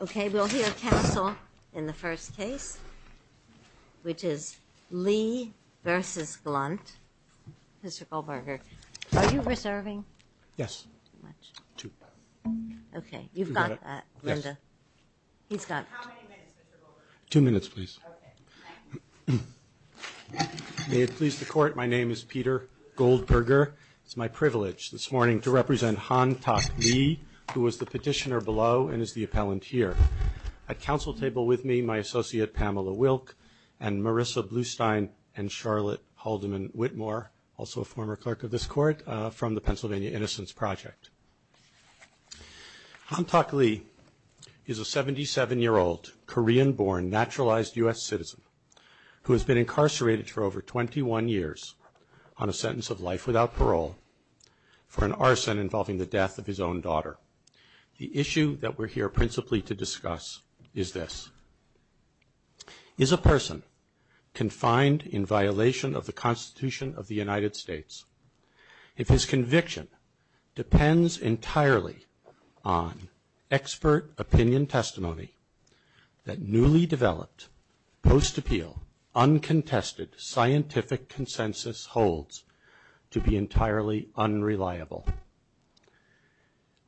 Okay, we'll hear counsel in the first case, which is Lee v. Glunt. Mr. Goldberger, are you reserving? Yes. Okay, you've got that, Linda. He's got it. How many minutes, Mr. Goldberger? Two minutes, please. May it please the Court, my name is Peter Goldberger. It's my privilege this morning to represent Han Tak Lee, who is the petitioner below and is the appellant here. At counsel table with me, my associate Pamela Wilk and Marissa Blustein and Charlotte Haldeman-Whitmore, also a former clerk of this court, from the Pennsylvania Innocence Project. Han Tak Lee is a 77-year-old Korean-born, naturalized U.S. citizen who has been incarcerated for over 21 years on a sentence of life without parole for an arson involving the death of his own daughter. The issue that we're here principally to discuss is this. Is a person confined in violation of the Constitution of the United States, if his conviction depends entirely on expert opinion testimony that newly developed, post-appeal, uncontested scientific consensus holds to be entirely unreliable?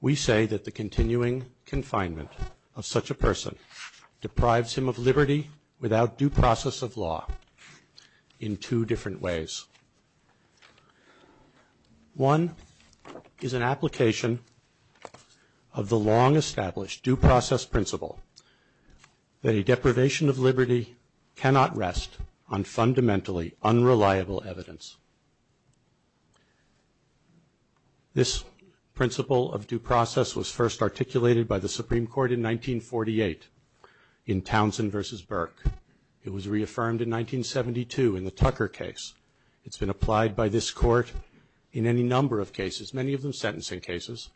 We say that the continuing confinement of such a person deprives him of liberty without due process of law in two different ways. One is an application of the long-established due process principle that a deprivation of liberty cannot rest on fundamentally unreliable evidence. This principle of due process was first articulated by the Supreme Court in 1948 in Townsend v. Burke. It was reaffirmed in 1972 in the Tucker case. It's been applied by this court in any number of cases, many of them sentencing cases,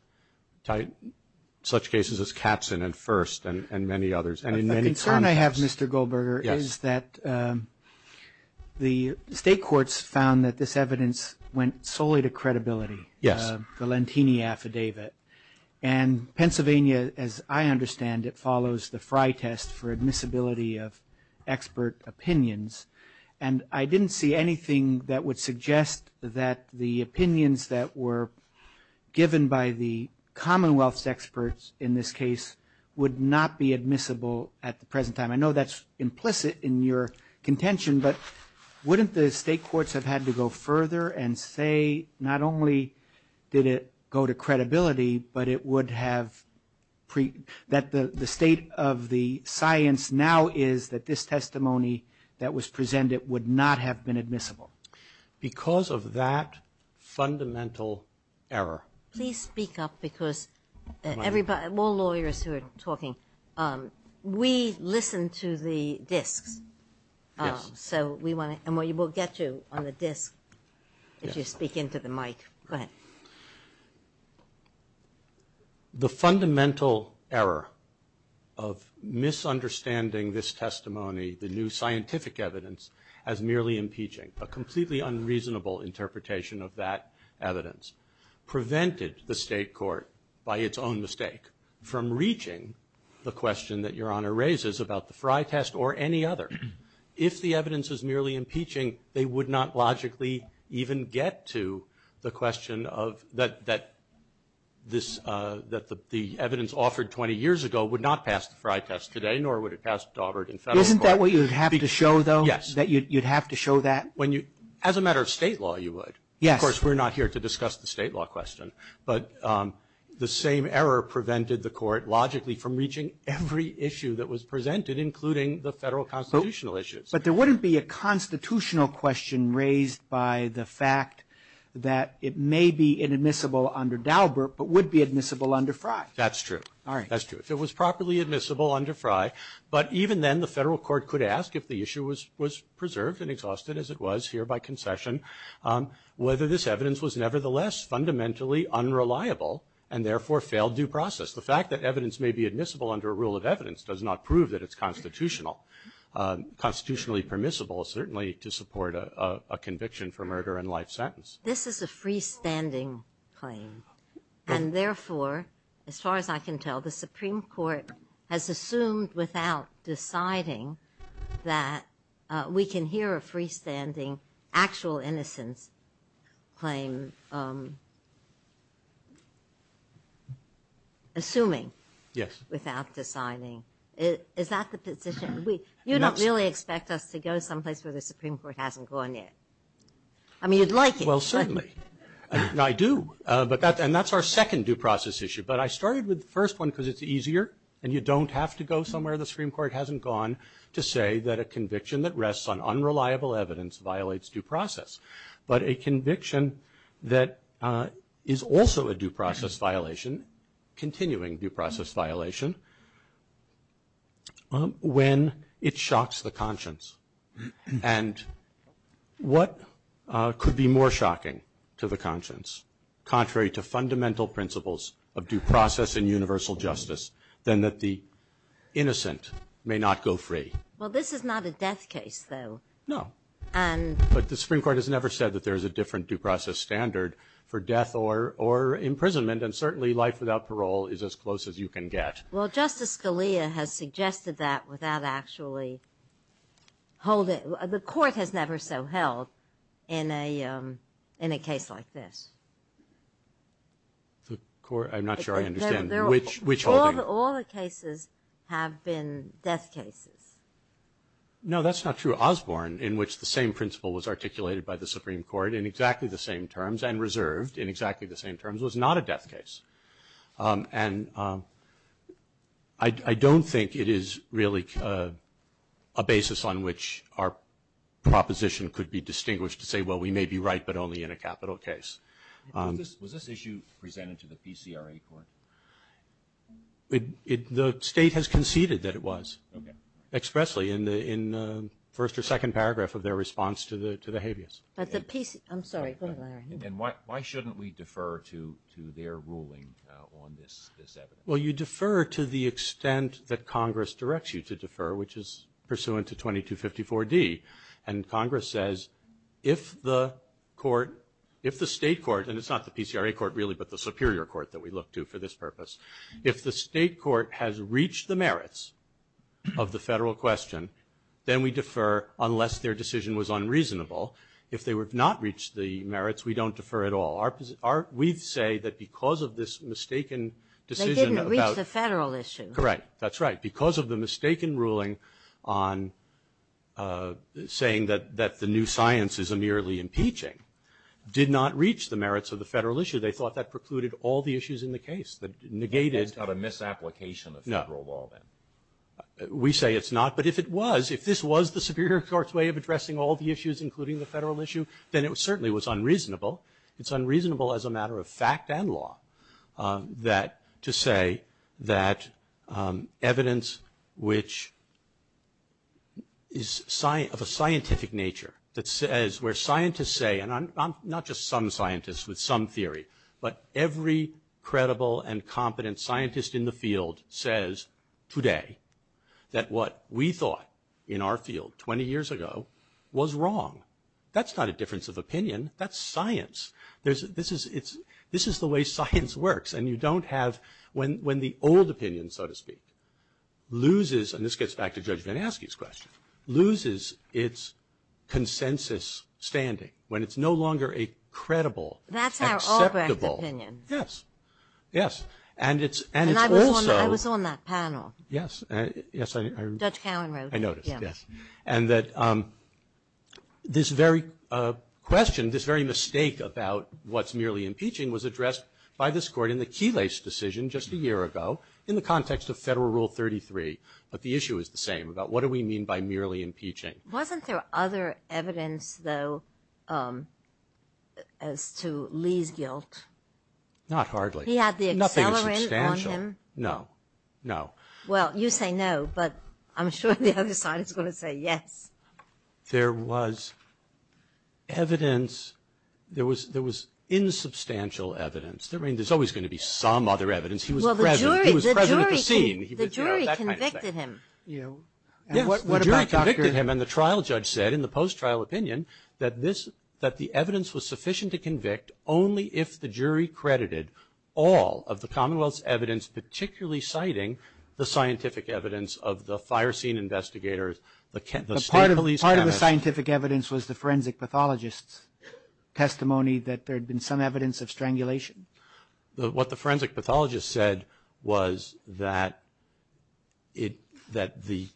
such cases as Katzen and First and many others, and in many contexts. The concern I have, Mr. Goldberger, is that the state courts found that this evidence went solely to credibility. Yes. The Lentini Affidavit. And Pennsylvania, as I understand it, follows the Frye test for admissibility of expert opinions. And I didn't see anything that would suggest that the opinions that were given by the Commonwealth's experts in this case would not be admissible at the present time. I know that's implicit in your contention, but wouldn't the state courts have had to go further and say not only did it go to credibility, but it would have pre- that the state of the science now is that this testimony that was presented would not have been admissible? Because of that fundamental error. Please speak up because everybody, all lawyers who are talking, we listen to the disks. Yes. So we want to, and we'll get you on the disk if you speak into the mic. Go ahead. The fundamental error of misunderstanding this testimony, the new scientific evidence, as merely impeaching, a completely unreasonable interpretation of that evidence, prevented the state court by its own mistake from reaching the question that Your Honor raises about the Frye test or any other. If the evidence is merely impeaching, they would not logically even get to the question of that this, that the evidence offered 20 years ago would not pass the Frye test today, nor would it pass Daubert in federal court. Isn't that what you'd have to show though? Yes. That you'd have to show that? When you, as a matter of state law, you would. Yes. Of course, we're not here to discuss the state law question. But the same error prevented the court logically from reaching every issue that was presented, including the federal constitutional issues. But there wouldn't be a constitutional question raised by the fact that it may be inadmissible under Daubert, but would be admissible under Frye. That's true. All right. That's true. If it was properly admissible under Frye, but even then the federal court could ask if the issue was preserved and exhausted, as it was here by concession, whether this evidence was nevertheless fundamentally unreliable and therefore failed due process. The fact that evidence may be admissible under a rule of evidence does not prove that it's constitutional. Constitutionally permissible is certainly to support a conviction for murder and life sentence. This is a freestanding claim. And therefore, as far as I can tell, the Supreme Court has assumed without deciding that we can hear a freestanding actual innocence claim. Assuming. Yes. Without deciding. Is that the position? You don't really expect us to go someplace where the Supreme Court hasn't gone yet? I mean, you'd like it. Well, certainly. I do. And that's our second due process issue. But I started with the first one because it's easier and you don't have to go somewhere the Supreme Court hasn't gone to say that a conviction that rests on unreliable evidence violates due process. But a conviction that is also a due process violation, continuing due process violation, when it shocks the conscience. And what could be more shocking to the conscience, contrary to fundamental principles of due process and universal justice, than that the innocent may not go free? Well, this is not a death case, though. No. But the Supreme Court has never said that there is a different due process standard for death or imprisonment. And certainly life without parole is as close as you can get. Well, Justice Scalia has suggested that without actually holding it. The Court has never so held in a case like this. The Court? I'm not sure I understand. Which holding? All the cases have been death cases. No, that's not true. Osborne, in which the same principle was articulated by the Supreme Court in exactly the same terms and reserved in exactly the same terms, was not a death case. And I don't think it is really a basis on which our proposition could be distinguished to say, well, we may be right, but only in a capital case. Was this issue presented to the PCRA Court? The State has conceded that it was expressly in the first or second paragraph of their response to the habeas. I'm sorry. Then why shouldn't we defer to their ruling on this evidence? Well, you defer to the extent that Congress directs you to defer, which is pursuant to 2254D. And Congress says, if the Court, if the State Court, and it's not the PCRA Court really, but the Superior Court that we look to for this purpose, if the State Court has reached the merits of the federal question, then we defer unless their decision was unreasonable. If they have not reached the merits, we don't defer at all. We say that because of this mistaken decision about the federal issue. They didn't reach the federal issue. Correct. That's right. Because of the mistaken ruling on saying that the new science is merely impeaching, did not reach the merits of the federal issue. They thought that precluded all the issues in the case. That negated. That's not a misapplication of federal law then. No. We say it's not. But if it was, if this was the Superior Court's way of addressing all the issues, including the federal issue, then it certainly was unreasonable. It's unreasonable as a matter of fact and law to say that evidence which is of a scientific nature, that says where scientists say, and I'm not just some scientist with some theory, but every credible and competent scientist in the field says today that what we thought in our field 20 years ago was wrong. That's not a difference of opinion. That's science. This is the way science works. And you don't have, when the old opinion, so to speak, loses, and this gets back to Judge VanAskey's question, loses its consensus standing when it's no longer a credible, acceptable. That's our Albrecht opinion. Yes. Yes. And it's also. And I was on that panel. Yes. Judge Cowen wrote it. I noticed, yes. And that this very question, this very mistake about what's merely impeaching was addressed by this Court in the Keylace decision just a year ago in the context of Federal Rule 33. But the issue is the same about what do we mean by merely impeaching. Wasn't there other evidence, though, as to Lee's guilt? Not hardly. He had the accelerant on him. Nothing substantial. No. No. Well, you say no, but I'm sure the other side is going to say yes. There was evidence. There was insubstantial evidence. I mean, there's always going to be some other evidence. He was present. He was present at the scene. The jury convicted him. Yes. The jury convicted him. And the trial judge said in the post-trial opinion that the evidence was sufficient to convict only if the jury credited all of the Commonwealth's evidence, particularly citing the scientific evidence of the fire scene investigators, the state police. Part of the scientific evidence was the forensic pathologist's testimony that there had been some evidence of strangulation. What the forensic pathologist said was that the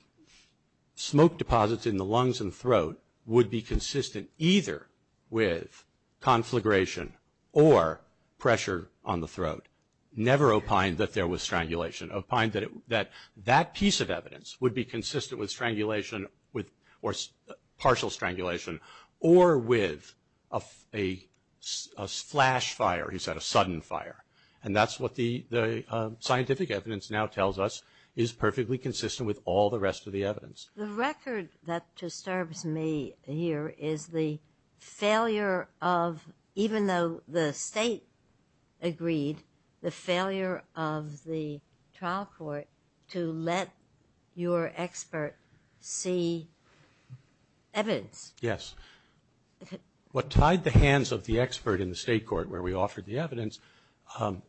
smoke deposits in the lungs and throat would be consistent either with conflagration or pressure on the throat. Never opined that there was strangulation. Opined that that piece of evidence would be consistent with strangulation or partial strangulation or with a flash fire, he said, a sudden fire. And that's what the scientific evidence now tells us is perfectly consistent with all the rest of the evidence. The record that disturbs me here is the failure of, even though the state agreed, the failure of the trial court to let your expert see evidence. Yes. What tied the hands of the expert in the state court where we offered the evidence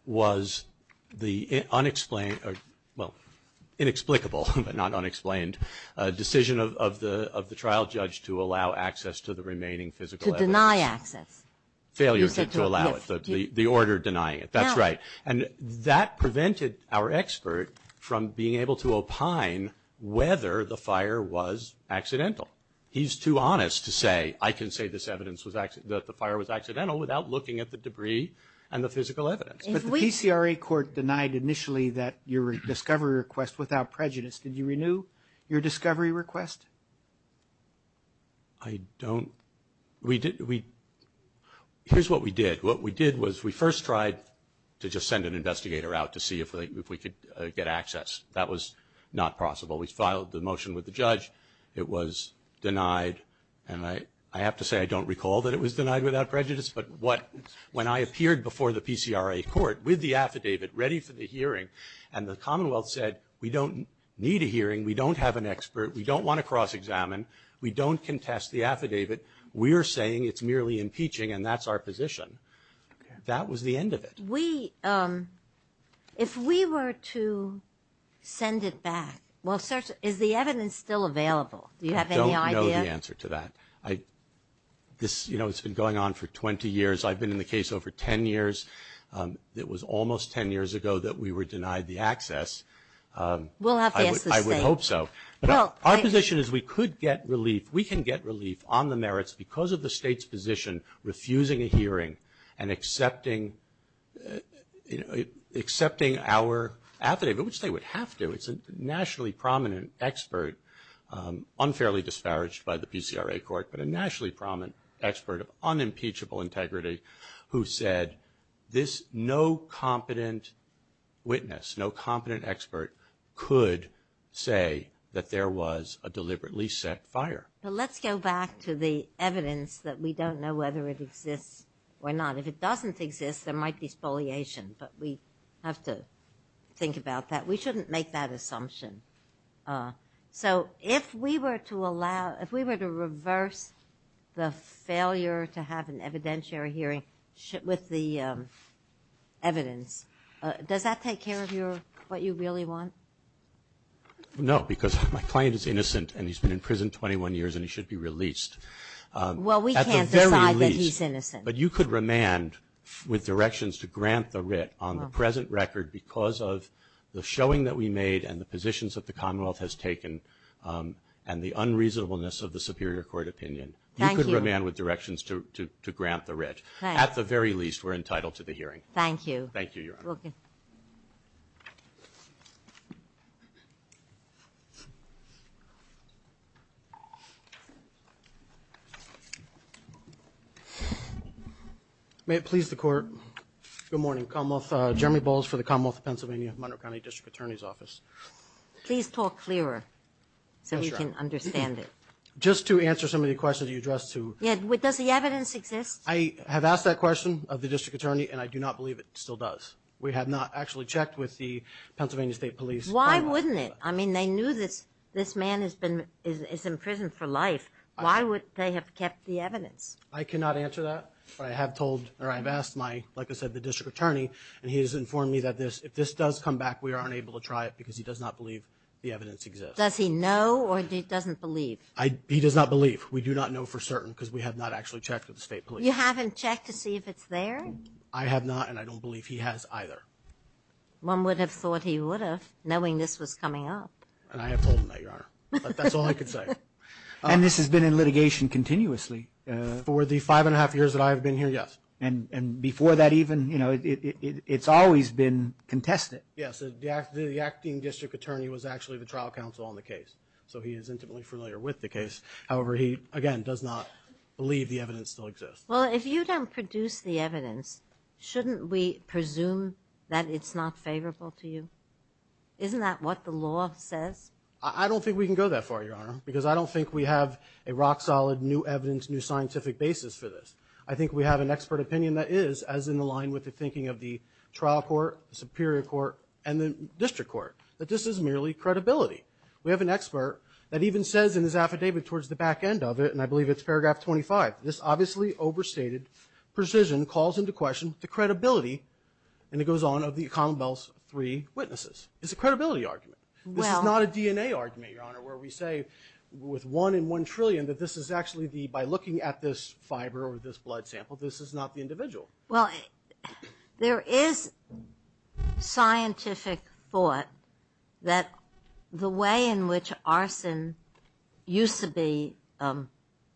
was the unexplained, well, inexplicable, but not unexplained, decision of the trial judge to allow access to the remaining physical evidence. To deny access. Failure to allow it. The order denying it. That's right. And that prevented our expert from being able to opine whether the fire was accidental. He's too honest to say, I can say this evidence, that the fire was accidental without looking at the debris and the physical evidence. But the PCRA court denied initially that your discovery request without prejudice. Did you renew your discovery request? I don't. Here's what we did. What we did was we first tried to just send an investigator out to see if we could get access. That was not possible. We filed the motion with the judge. It was denied. And I have to say I don't recall that it was denied without prejudice. But when I appeared before the PCRA court with the affidavit ready for the hearing and the Commonwealth said we don't need a hearing, we don't have an expert, we don't want to cross-examine, we don't contest the affidavit, we are saying it's merely impeaching and that's our position. That was the end of it. If we were to send it back, is the evidence still available? Do you have any idea? I don't know the answer to that. It's been going on for 20 years. I've been in the case over 10 years. It was almost 10 years ago that we were denied the access. We'll have to ask the state. I would hope so. Our position is we could get relief. We can get relief on the merits because of the state's position refusing a hearing and accepting our affidavit, which they would have to. It's a nationally prominent expert, unfairly disparaged by the PCRA court, but a nationally prominent expert of unimpeachable integrity who said this no that there was a deliberately set fire. Let's go back to the evidence that we don't know whether it exists or not. If it doesn't exist, there might be spoliation, but we have to think about that. We shouldn't make that assumption. So if we were to reverse the failure to have an evidentiary hearing with the evidence, does that take care of what you really want? No, because my client is innocent, and he's been in prison 21 years, and he should be released. Well, we can't decide that he's innocent. But you could remand with directions to grant the writ on the present record because of the showing that we made and the positions that the Commonwealth has taken and the unreasonableness of the superior court opinion. You could remand with directions to grant the writ. At the very least, we're entitled to the hearing. Thank you. Thank you, Your Honor. Okay. May it please the Court. Good morning. Jeremy Bowles for the Commonwealth of Pennsylvania, Monroe County District Attorney's Office. Please talk clearer so we can understand it. Just to answer some of the questions you addressed. Does the evidence exist? I have asked that question of the district attorney, and I do not believe it still does. We have not actually checked with the Pennsylvania State Police. Why wouldn't it? I mean, they knew this man is in prison for life. Why would they have kept the evidence? I cannot answer that. But I have asked, like I said, the district attorney, and he has informed me that if this does come back, we are unable to try it because he does not believe the evidence exists. Does he know or he doesn't believe? He does not believe. We do not know for certain because we have not actually checked with the State Police. You haven't checked to see if it's there? I have not, and I don't believe he has either. One would have thought he would have, knowing this was coming up. And I have told him that, Your Honor. That's all I can say. And this has been in litigation continuously? For the five and a half years that I have been here, yes. And before that even, you know, it's always been contested? Yes. The acting district attorney was actually the trial counsel on the case, so he is intimately familiar with the case. However, he, again, does not believe the evidence still exists. Well, if you don't produce the evidence, shouldn't we presume that it's not favorable to you? Isn't that what the law says? I don't think we can go that far, Your Honor, because I don't think we have a rock-solid new evidence, new scientific basis for this. I think we have an expert opinion that is, as in the line with the thinking of the trial court, the superior court, and the district court, that this is merely credibility. We have an expert that even says in his affidavit towards the back end of it, and I believe it's paragraph 25, this obviously overstated precision calls into question the credibility, and it goes on of the commonwealth's three witnesses. It's a credibility argument. This is not a DNA argument, Your Honor, where we say with one in one trillion that this is actually the, Well, there is scientific thought that the way in which arson used to be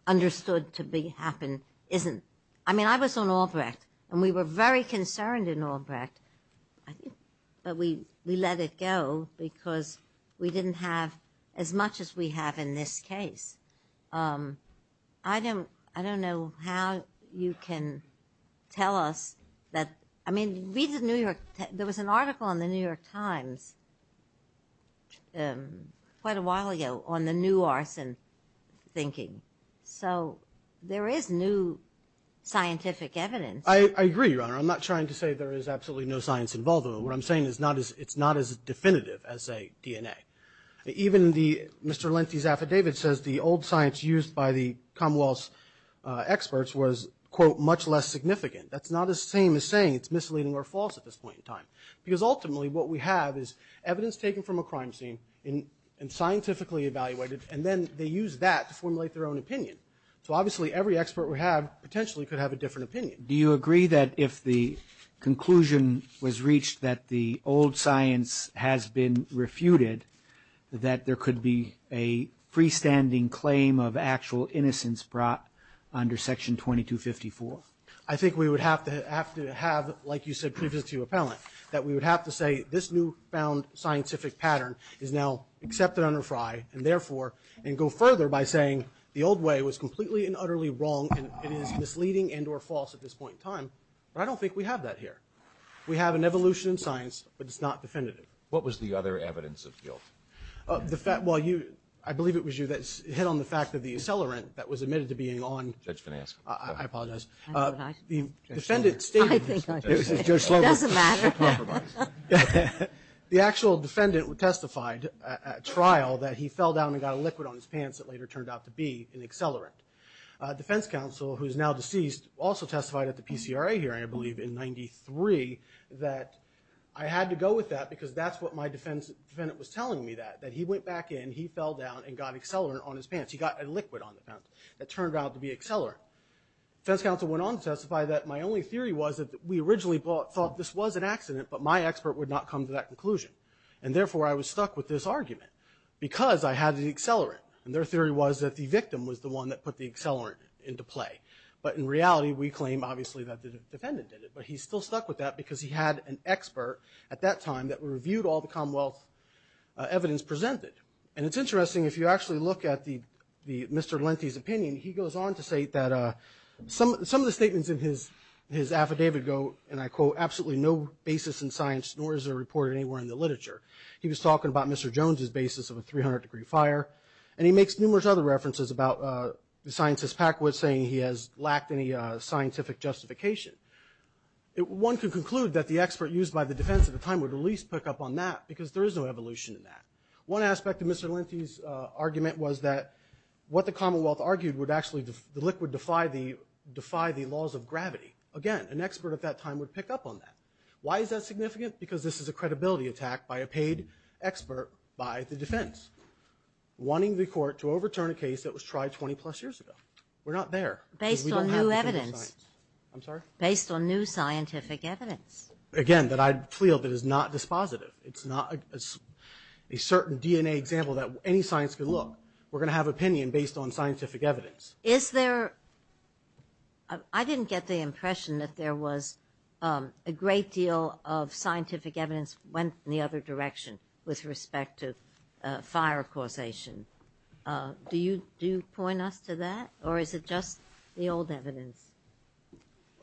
understood to happen isn't. I mean, I was on Albrecht, and we were very concerned in Albrecht, but we let it go because we didn't have as much as we have in this case. I don't know how you can tell us that. I mean, read the New York. There was an article in the New York Times quite a while ago on the new arson thinking. So there is new scientific evidence. I agree, Your Honor. I'm not trying to say there is absolutely no science involved. What I'm saying is it's not as definitive as, say, DNA. Even Mr. Lenthi's affidavit says the old science used by the commonwealth's experts was, quote, much less significant. That's not the same as saying it's misleading or false at this point in time, because ultimately what we have is evidence taken from a crime scene and scientifically evaluated, and then they use that to formulate their own opinion. So obviously every expert we have potentially could have a different opinion. Do you agree that if the conclusion was reached that the old science has been refuted, that there could be a freestanding claim of actual innocence brought under Section 2254? I think we would have to have, like you said previously to your appellant, that we would have to say this newfound scientific pattern is now accepted under FRI and therefore can go further by saying the old way was completely and utterly wrong and it is misleading and or false at this point in time. But I don't think we have that here. We have an evolution in science, but it's not definitive. What was the other evidence of guilt? Well, I believe it was you that hit on the fact that the accelerant that was admitted to being on the defendant's statement. It doesn't matter. The actual defendant testified at trial that he fell down and got a liquid on his pants that later turned out to be an accelerant. The defense counsel, who is now deceased, also testified at the PCRA hearing, I believe in 1993, that I had to go with that because that's what my defendant was telling me, that he went back in, he fell down, and got accelerant on his pants. He got a liquid on the pants that turned out to be accelerant. The defense counsel went on to testify that my only theory was that we originally thought this was an accident, but my expert would not come to that conclusion. And therefore, I was stuck with this argument because I had the accelerant. And their theory was that the victim was the one that put the accelerant into play. But in reality, we claim, obviously, that the defendant did it. But he still stuck with that because he had an expert at that time that reviewed all the Commonwealth evidence presented. And it's interesting, if you actually look at Mr. Lenthi's opinion, he goes on to say that some of the statements in his affidavit go, and I quote, absolutely no basis in science, nor is there a report anywhere in the literature. He was talking about Mr. Jones's basis of a 300-degree fire. And he makes numerous other references about the scientist Packwood saying he has lacked any scientific justification. One could conclude that the expert used by the defense at the time would at least pick up on that because there is no evolution in that. One aspect of Mr. Lenthi's argument was that what the Commonwealth argued would actually, the liquid defied the laws of gravity. Again, an expert at that time would pick up on that. Why is that significant? Because this is a credibility attack by a paid expert by the defense, wanting the court to overturn a case that was tried 20-plus years ago. We're not there. Based on new evidence. I'm sorry? Based on new scientific evidence. Again, that I feel that is not dispositive. It's not a certain DNA example that any science could look. We're going to have opinion based on scientific evidence. Is there, I didn't get the impression that there was a great deal of scientific evidence went in the other direction with respect to fire causation. Do you point us to that? Or is it just the old evidence?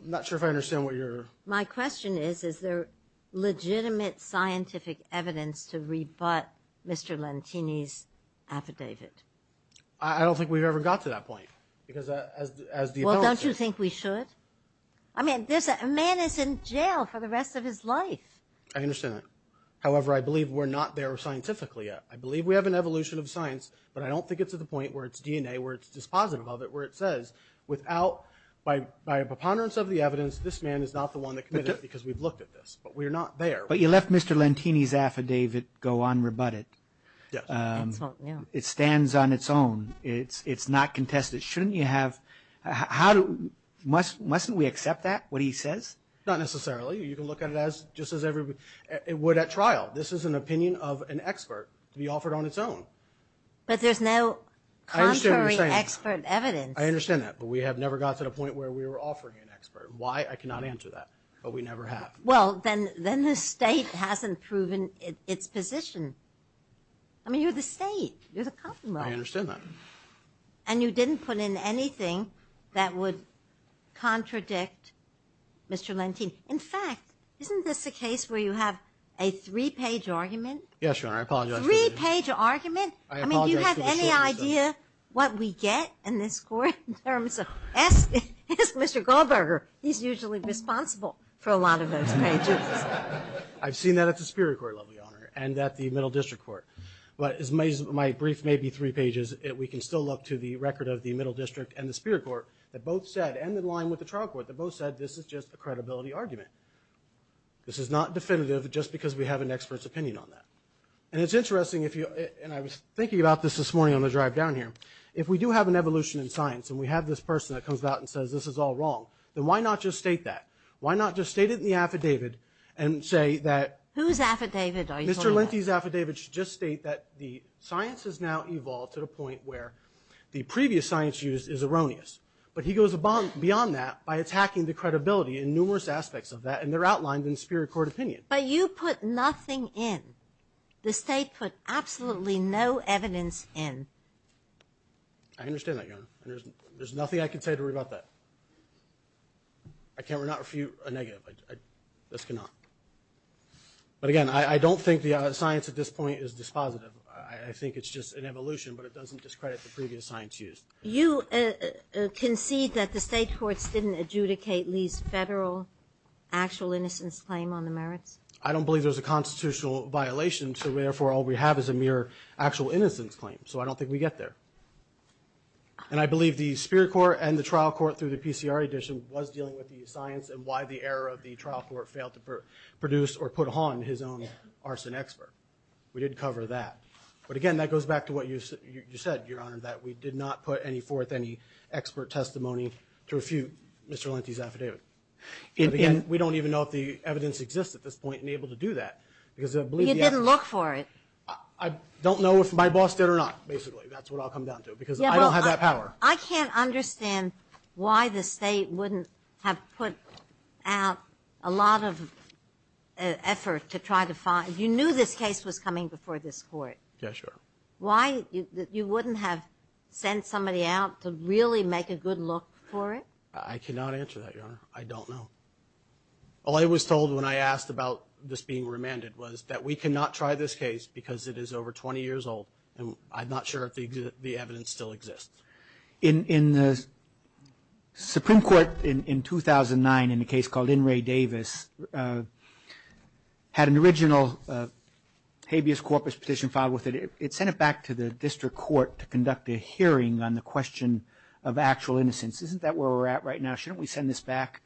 I'm not sure if I understand what you're. My question is, is there legitimate scientific evidence to rebut Mr. Lenthi's affidavit? I don't think we've ever got to that point. Well, don't you think we should? I mean, a man is in jail for the rest of his life. I understand that. However, I believe we're not there scientifically yet. I believe we have an evolution of science, but I don't think it's at the point where it's DNA, where it's dispositive of it, where it says without, by a preponderance of the evidence, this man is not the one that committed it because we've looked at this. But we're not there. But you left Mr. Lenthi's affidavit go unrebutted. Yes. It stands on its own. It's not contested. Shouldn't you have – how – mustn't we accept that, what he says? Not necessarily. You can look at it just as everybody would at trial. This is an opinion of an expert to be offered on its own. But there's no contrary expert evidence. I understand that. But we have never got to the point where we were offering an expert. Why, I cannot answer that. But we never have. Well, then the state hasn't proven its position. I mean, you're the state. You're the commonwealth. I understand that. And you didn't put in anything that would contradict Mr. Lenthi. In fact, isn't this a case where you have a three-page argument? Yes, Your Honor. I apologize for the shortness of it. Three-page argument? I apologize for the shortness of it. I mean, do you have any idea what we get in this court in terms of – Mr. Goldberger, he's usually responsible for a lot of those pages. I've seen that at the Superior Court level, Your Honor, and at the Middle District Court. But as my brief may be three pages, we can still look to the record of the Middle District and the Superior Court that both said, and in line with the trial court, that both said this is just a credibility argument. This is not definitive just because we have an expert's opinion on that. And it's interesting if you – and I was thinking about this this morning on the drive down here. If we do have an evolution in science and we have this person that comes out and says this is all wrong, then why not just state that? Why not just state it in the affidavit and say that – Whose affidavit are you talking about? Mr. Lenthi's affidavit should just state that the science has now evolved to the point where the previous science used is erroneous. But he goes beyond that by attacking the credibility in numerous aspects of that, and they're outlined in the Superior Court opinion. But you put nothing in. The State put absolutely no evidence in. I understand that, Your Honor. There's nothing I can say to worry about that. I cannot refute a negative. This cannot. But again, I don't think the science at this point is dispositive. I think it's just an evolution, but it doesn't discredit the previous science used. You concede that the State courts didn't adjudicate Lee's federal actual innocence claim on the merits? I don't believe there's a constitutional violation, so therefore all we have is a mere actual innocence claim. So I don't think we get there. And I believe the Superior Court and the trial court through the PCR edition was dealing with the science and why the error of the trial court failed to produce or put on his own arson expert. We did cover that. But again, that goes back to what you said, Your Honor, that we did not put forth any expert testimony to refute Mr. Lenthi's affidavit. But again, we don't even know if the evidence exists at this point and able to do that. You didn't look for it. I don't know if my boss did or not, basically. That's what I'll come down to because I don't have that power. I can't understand why the State wouldn't have put out a lot of effort to try to find— you knew this case was coming before this court. Yeah, sure. Why you wouldn't have sent somebody out to really make a good look for it? I cannot answer that, Your Honor. I don't know. All I was told when I asked about this being remanded was that we cannot try this case because it is over 20 years old, and I'm not sure if the evidence still exists. In the Supreme Court in 2009 in a case called In Re Davis, had an original habeas corpus petition filed with it. It sent it back to the district court to conduct a hearing on the question of actual innocence. Isn't that where we're at right now? Shouldn't we send this back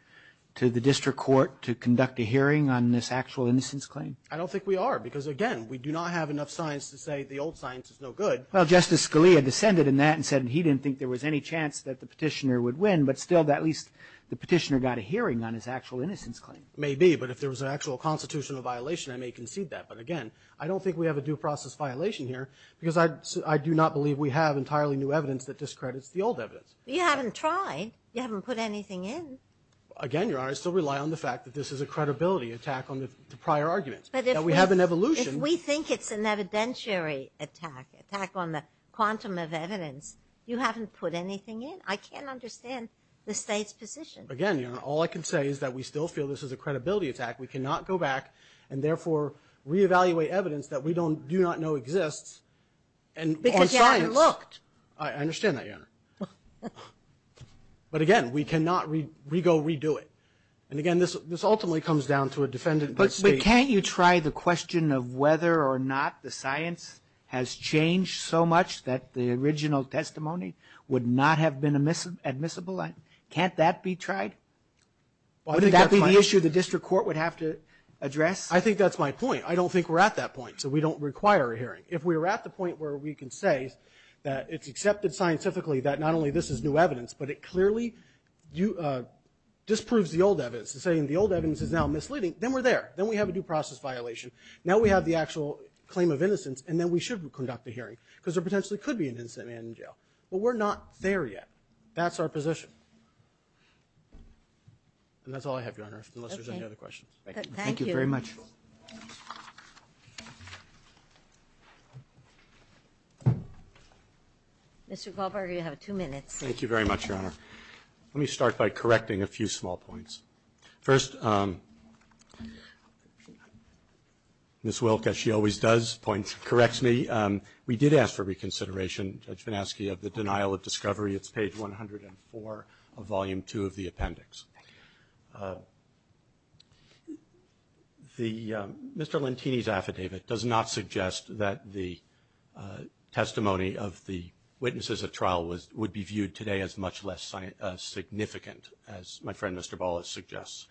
to the district court to conduct a hearing on this actual innocence claim? I don't think we are. Because, again, we do not have enough science to say the old science is no good. Well, Justice Scalia descended in that and said he didn't think there was any chance that the petitioner would win, but still at least the petitioner got a hearing on his actual innocence claim. Maybe, but if there was an actual constitutional violation, I may concede that. But, again, I don't think we have a due process violation here because I do not believe we have entirely new evidence that discredits the old evidence. You haven't tried. You haven't put anything in. Again, Your Honor, I still rely on the fact that this is a credibility attack on the prior arguments, that we have an evolution. But if we think it's an evidentiary attack, attack on the quantum of evidence, you haven't put anything in. I can't understand the State's position. Again, Your Honor, all I can say is that we still feel this is a credibility attack. We cannot go back and, therefore, re-evaluate evidence that we do not know exists. Because you haven't looked. I understand that, Your Honor. But, again, we cannot re-go, re-do it. And, again, this ultimately comes down to a defendant. But can't you try the question of whether or not the science has changed so much that the original testimony would not have been admissible? Can't that be tried? Wouldn't that be the issue the district court would have to address? I think that's my point. I don't think we're at that point. So we don't require a hearing. If we were at the point where we can say that it's accepted scientifically that not only this is new evidence, but it clearly disproves the old evidence, saying the old evidence is now misleading, then we're there. Then we have a due process violation. Now we have the actual claim of innocence, and then we should conduct a hearing because there potentially could be an innocent man in jail. But we're not there yet. That's our position. And that's all I have, Your Honor, unless there's any other questions. Thank you. Ginsburg. Thank you very much. Mr. Goldberger, you have two minutes. Thank you very much, Your Honor. Let me start by correcting a few small points. First, Ms. Wilk, as she always does, corrects me. We did ask for reconsideration. Judge Vinesky, of the denial of discovery, it's page 104 of volume 2 of the appendix. Mr. Lentini's affidavit does not suggest that the testimony of the witnesses at trial would be viewed today as much less significant, as my friend Mr. Ballas suggests.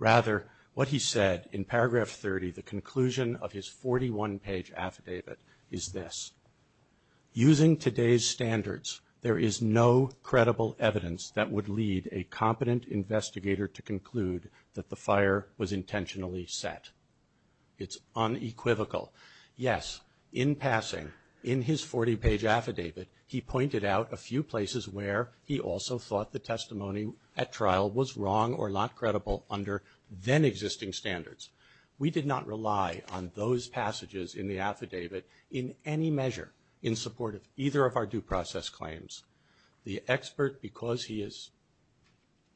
Rather, what he said in paragraph 30, the conclusion of his 41-page affidavit, is this. Using today's standards, there is no credible evidence that would lead a competent investigator to conclude that the fire was intentionally set. It's unequivocal. Yes, in passing, in his 40-page affidavit, he pointed out a few places where he also thought the testimony at trial was wrong or not credible under then-existing standards. We did not rely on those passages in the affidavit in any measure in support of either of our due process claims. The expert, because he is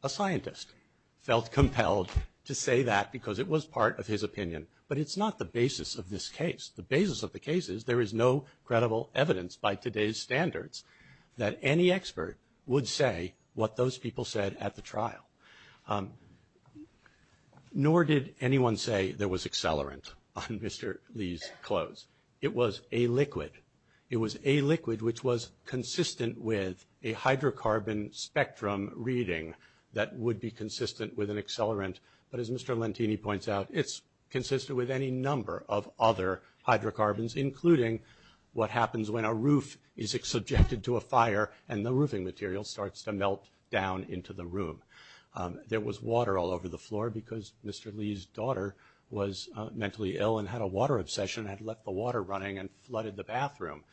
a scientist, felt compelled to say that because it was part of his opinion. But it's not the basis of this case. The basis of the case is there is no credible evidence by today's standards that any expert would say what those people said at the trial. Nor did anyone say there was accelerant on Mr. Lee's clothes. It was a liquid. It was a liquid which was consistent with a hydrocarbon spectrum reading that would be consistent with an accelerant. But as Mr. Lentini points out, it's consistent with any number of other hydrocarbons, including what happens when a roof is subjected to a fire and the roofing material starts to melt down into the room. There was water all over the floor because Mr. Lee's daughter was mentally ill and had a water obsession and had left the water running and flooded the bathroom.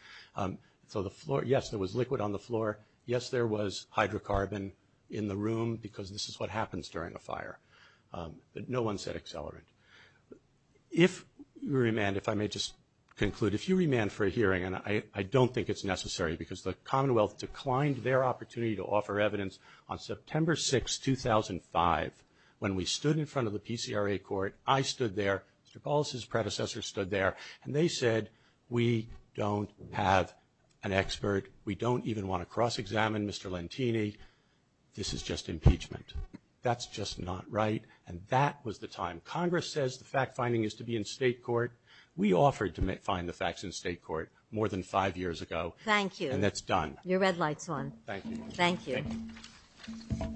So the floor, yes, there was liquid on the floor. Yes, there was hydrocarbon in the room because this is what happens during a fire. But no one said accelerant. If you remand, if I may just conclude, if you remand for a hearing, and I don't think it's necessary because the Commonwealth declined their opportunity to offer evidence on September 6, 2005, when we stood in front of the PCRA court. I stood there. Mr. Polis's predecessor stood there. And they said, we don't have an expert. We don't even want to cross-examine Mr. Lentini. This is just impeachment. That's just not right. And that was the time. Congress says the fact-finding is to be in state court. We offered to find the facts in state court more than five years ago. Thank you. And that's done. Your red light's on. Thank you. Thank you.